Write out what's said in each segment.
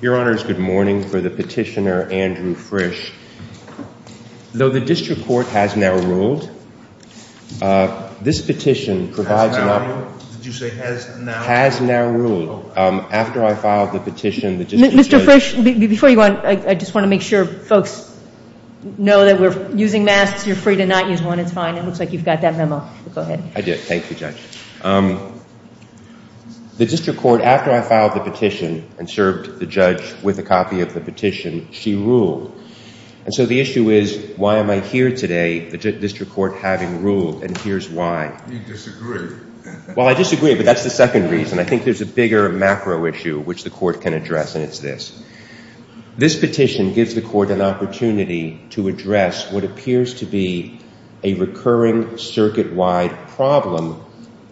Your Honor, it is good morning for the petitioner Andrew Frisch. Though the district court has now ruled, this petition has now ruled, after I filed the petition, the district court... Mr. Frisch, before you go on, I just want to make sure folks know that we're using masks, you're free to not use one, it's fine. It looks like you've got that memo, go ahead. I did, thank you Judge. The district court, after I filed the petition and served the judge with a copy of the petition, she ruled. And so the issue is, why am I here today, the district court having ruled, and here's why. You disagree. Well, I disagree, but that's the second reason. I think there's a bigger macro issue which the court can address, and it's this. This petition gives the court an opportunity to address what appears to be a recurring circuit-wide problem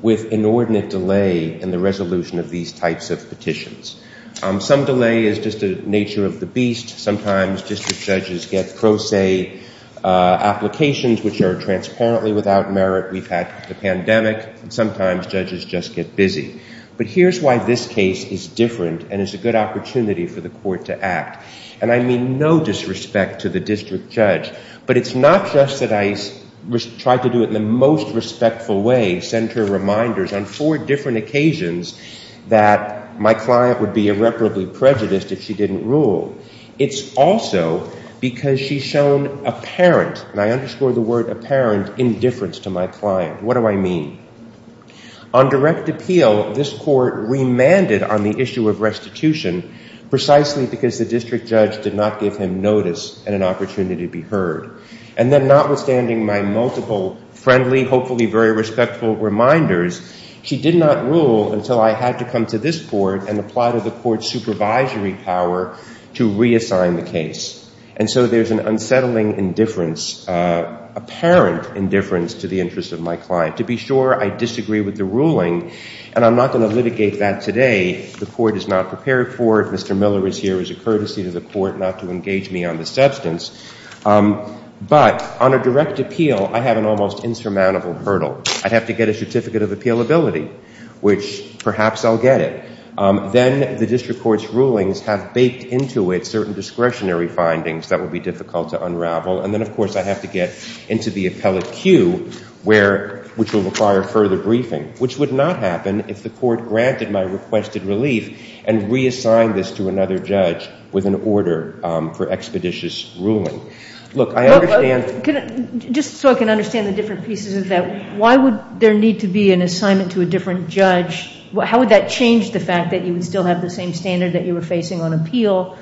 with inordinate delay in the resolution of these types of petitions. Some delay is just the nature of the beast, sometimes district judges get pro se applications which are transparently without merit, we've had the pandemic, and sometimes judges just get busy. But here's why this case is different and is a good opportunity for the court to act. And I mean no disrespect to the district judge, but it's not just that I tried to do it in the most respectful way, send her reminders on four different occasions that my client would be irreparably prejudiced if she didn't rule. It's also because she's shown apparent, and I underscore the word apparent, indifference to my client. What do I mean? On direct appeal, this court remanded on the issue of restitution precisely because the district judge did not give him notice and an opportunity to be heard. And then notwithstanding my multiple friendly, hopefully very respectful reminders, she did not rule until I had to come to this court and apply to the court's supervisory power to reassign the case. And so there's an unsettling indifference, apparent indifference to the interest of my client. To be sure, I disagree with the ruling, and I'm not going to litigate that today. The court is not prepared for it. Mr. Miller is here as a courtesy to the court not to engage me on the substance. But on a direct appeal, I have an almost insurmountable hurdle. I'd have to get a certificate of appealability, which perhaps I'll get it. Then the district court's rulings have baked into it certain discretionary findings that would be difficult to unravel. And then, of course, I'd have to get into the appellate queue, which will require further briefing, which would not happen if the court granted my requested relief and reassigned this to another judge with an order for expeditious ruling. Look, I understand— Just so I can understand the different pieces of that, why would there need to be an assignment to a different judge? How would that change the fact that you would still have the same standard that you were facing on appeal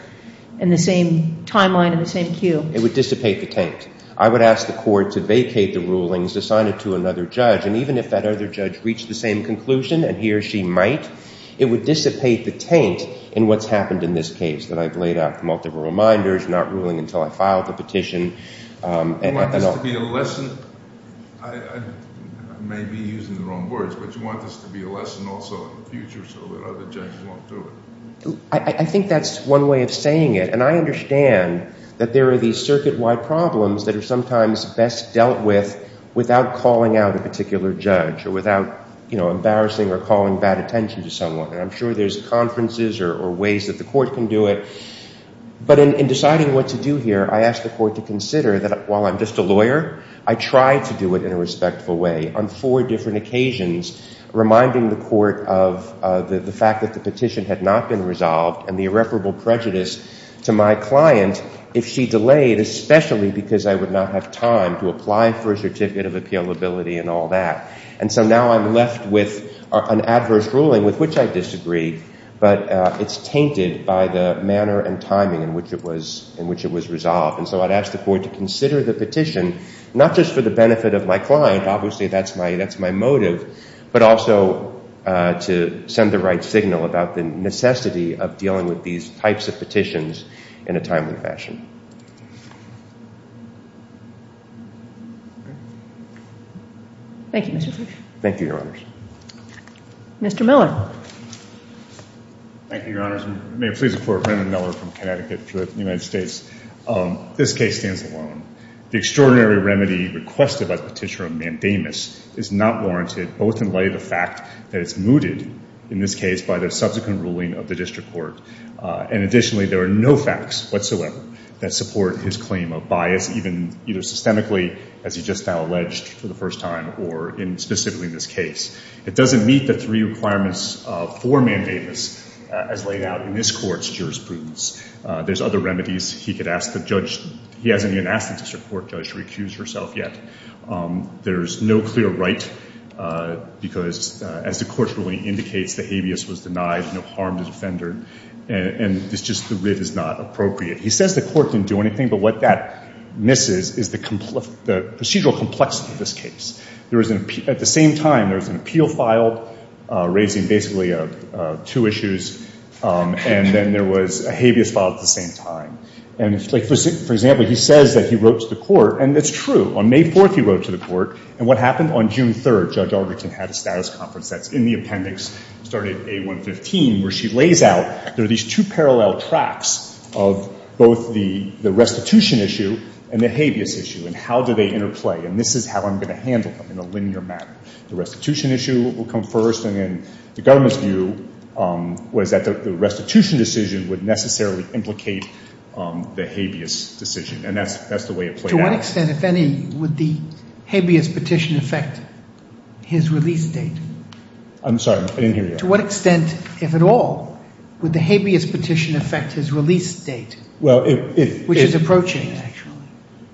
and the same timeline and the same queue? It would dissipate the taint. I would ask the court to vacate the rulings, assign it to another judge, and even if that other judge reached the same conclusion, and he or she might, it would dissipate the taint in what's happened in this case, that I've laid out the multiple reminders, not ruling until I file the petition. You want this to be a lesson? I may be using the wrong words, but you want this to be a lesson also in the future so that other judges won't do it? I think that's one way of saying it. I understand that there are these circuit-wide problems that are sometimes best dealt with without calling out a particular judge or without embarrassing or calling bad attention to someone. I'm sure there's conferences or ways that the court can do it, but in deciding what to do here, I ask the court to consider that while I'm just a lawyer, I try to do it in a respectful way on four different occasions, reminding the court of the fact that the petition had not been resolved and the irreparable prejudice to my client if she delayed, especially because I would not have time to apply for a certificate of appealability and all that. And so now I'm left with an adverse ruling with which I disagree, but it's tainted by the manner and timing in which it was resolved. And so I'd ask the court to consider the petition, not just for the benefit of my client, obviously that's my motive, but also to send the right signal about the necessity of dealing with these types of petitions in a timely fashion. Thank you, Mr. Judge. Thank you, Your Honors. Mr. Miller. Thank you, Your Honors. May it please the Court. Brandon Miller from Connecticut for the United States. This case stands alone. The extraordinary remedy requested by the petitioner, Mandamus, is not warranted, both in light of the fact that it's mooted, in this case, by the subsequent ruling of the district court. And additionally, there are no facts whatsoever that support his claim of bias, even either systemically, as he just now alleged for the first time, or specifically in this case. It doesn't meet the three requirements for Mandamus as laid out in this court's jurisprudence. There's other remedies he could ask the judge. He hasn't even asked the district court judge to recuse herself yet. There's no clear right, because as the court's ruling indicates, the habeas was denied, no harm to the offender, and it's just the writ is not appropriate. He says the court didn't do anything, but what that misses is the procedural complexity of this case. At the same time, there was an appeal filed, raising basically two issues, and then there was a habeas filed at the same time. And for example, he says that he wrote to the court, and it's true. On May 4th, he wrote to the court, and what happened? On June 3rd, Judge Augerton had a status conference that's in the appendix, started A115, where she lays out, there are these two parallel tracks of both the restitution issue and the habeas issue, and how do they interplay, and this is how I'm going to handle them in a linear manner. The restitution issue will come first, and then the government's view was that the restitution decision would necessarily implicate the habeas decision, and that's the way it played out. To what extent, if any, would the habeas petition affect his release date? I'm sorry. I didn't hear you. To what extent, if at all, would the habeas petition affect his release date, which is approaching, actually?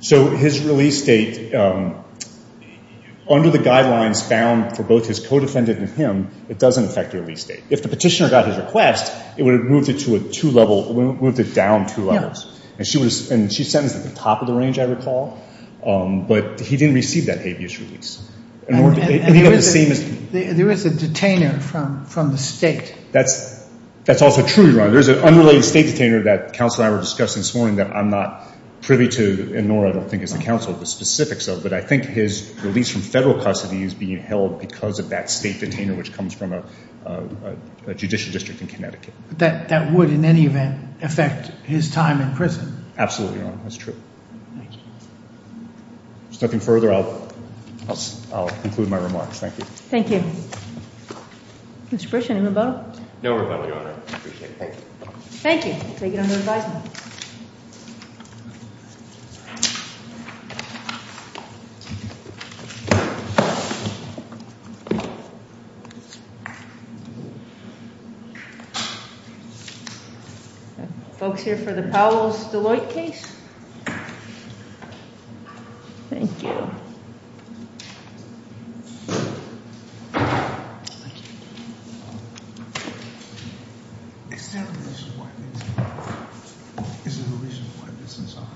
So his release date, under the guidelines found for both his co-defendant and him, it doesn't affect the release date. If the petitioner got his request, it would have moved it to a two-level, moved it down two levels, and she sentenced at the top of the range, I recall, but he didn't receive that habeas release. And there is a detainer from the state. That's also true, Your Honor. There's an unrelated state detainer that counsel and I were discussing this morning that I'm not privy to, and nor I don't think is the counsel the specifics of, but I think his release from federal custody is being held because of that state detainer, which comes from a judicial district in Connecticut. But that would, in any event, affect his time in prison? Absolutely, Your Honor. That's true. Thank you. If there's nothing further, I'll conclude my remarks. Thank you. Thank you. Mr. Pritchett, any rebuttal? No rebuttal, Your Honor. I appreciate it. Thank you. Thank you. Thank you. Thank you. Thank you. Thank you. Thank you. Thank you. Thank you. Thank you. Folks here for the Powells-Deloitte case? Thank you. Is there a reason why this is on? Thank you.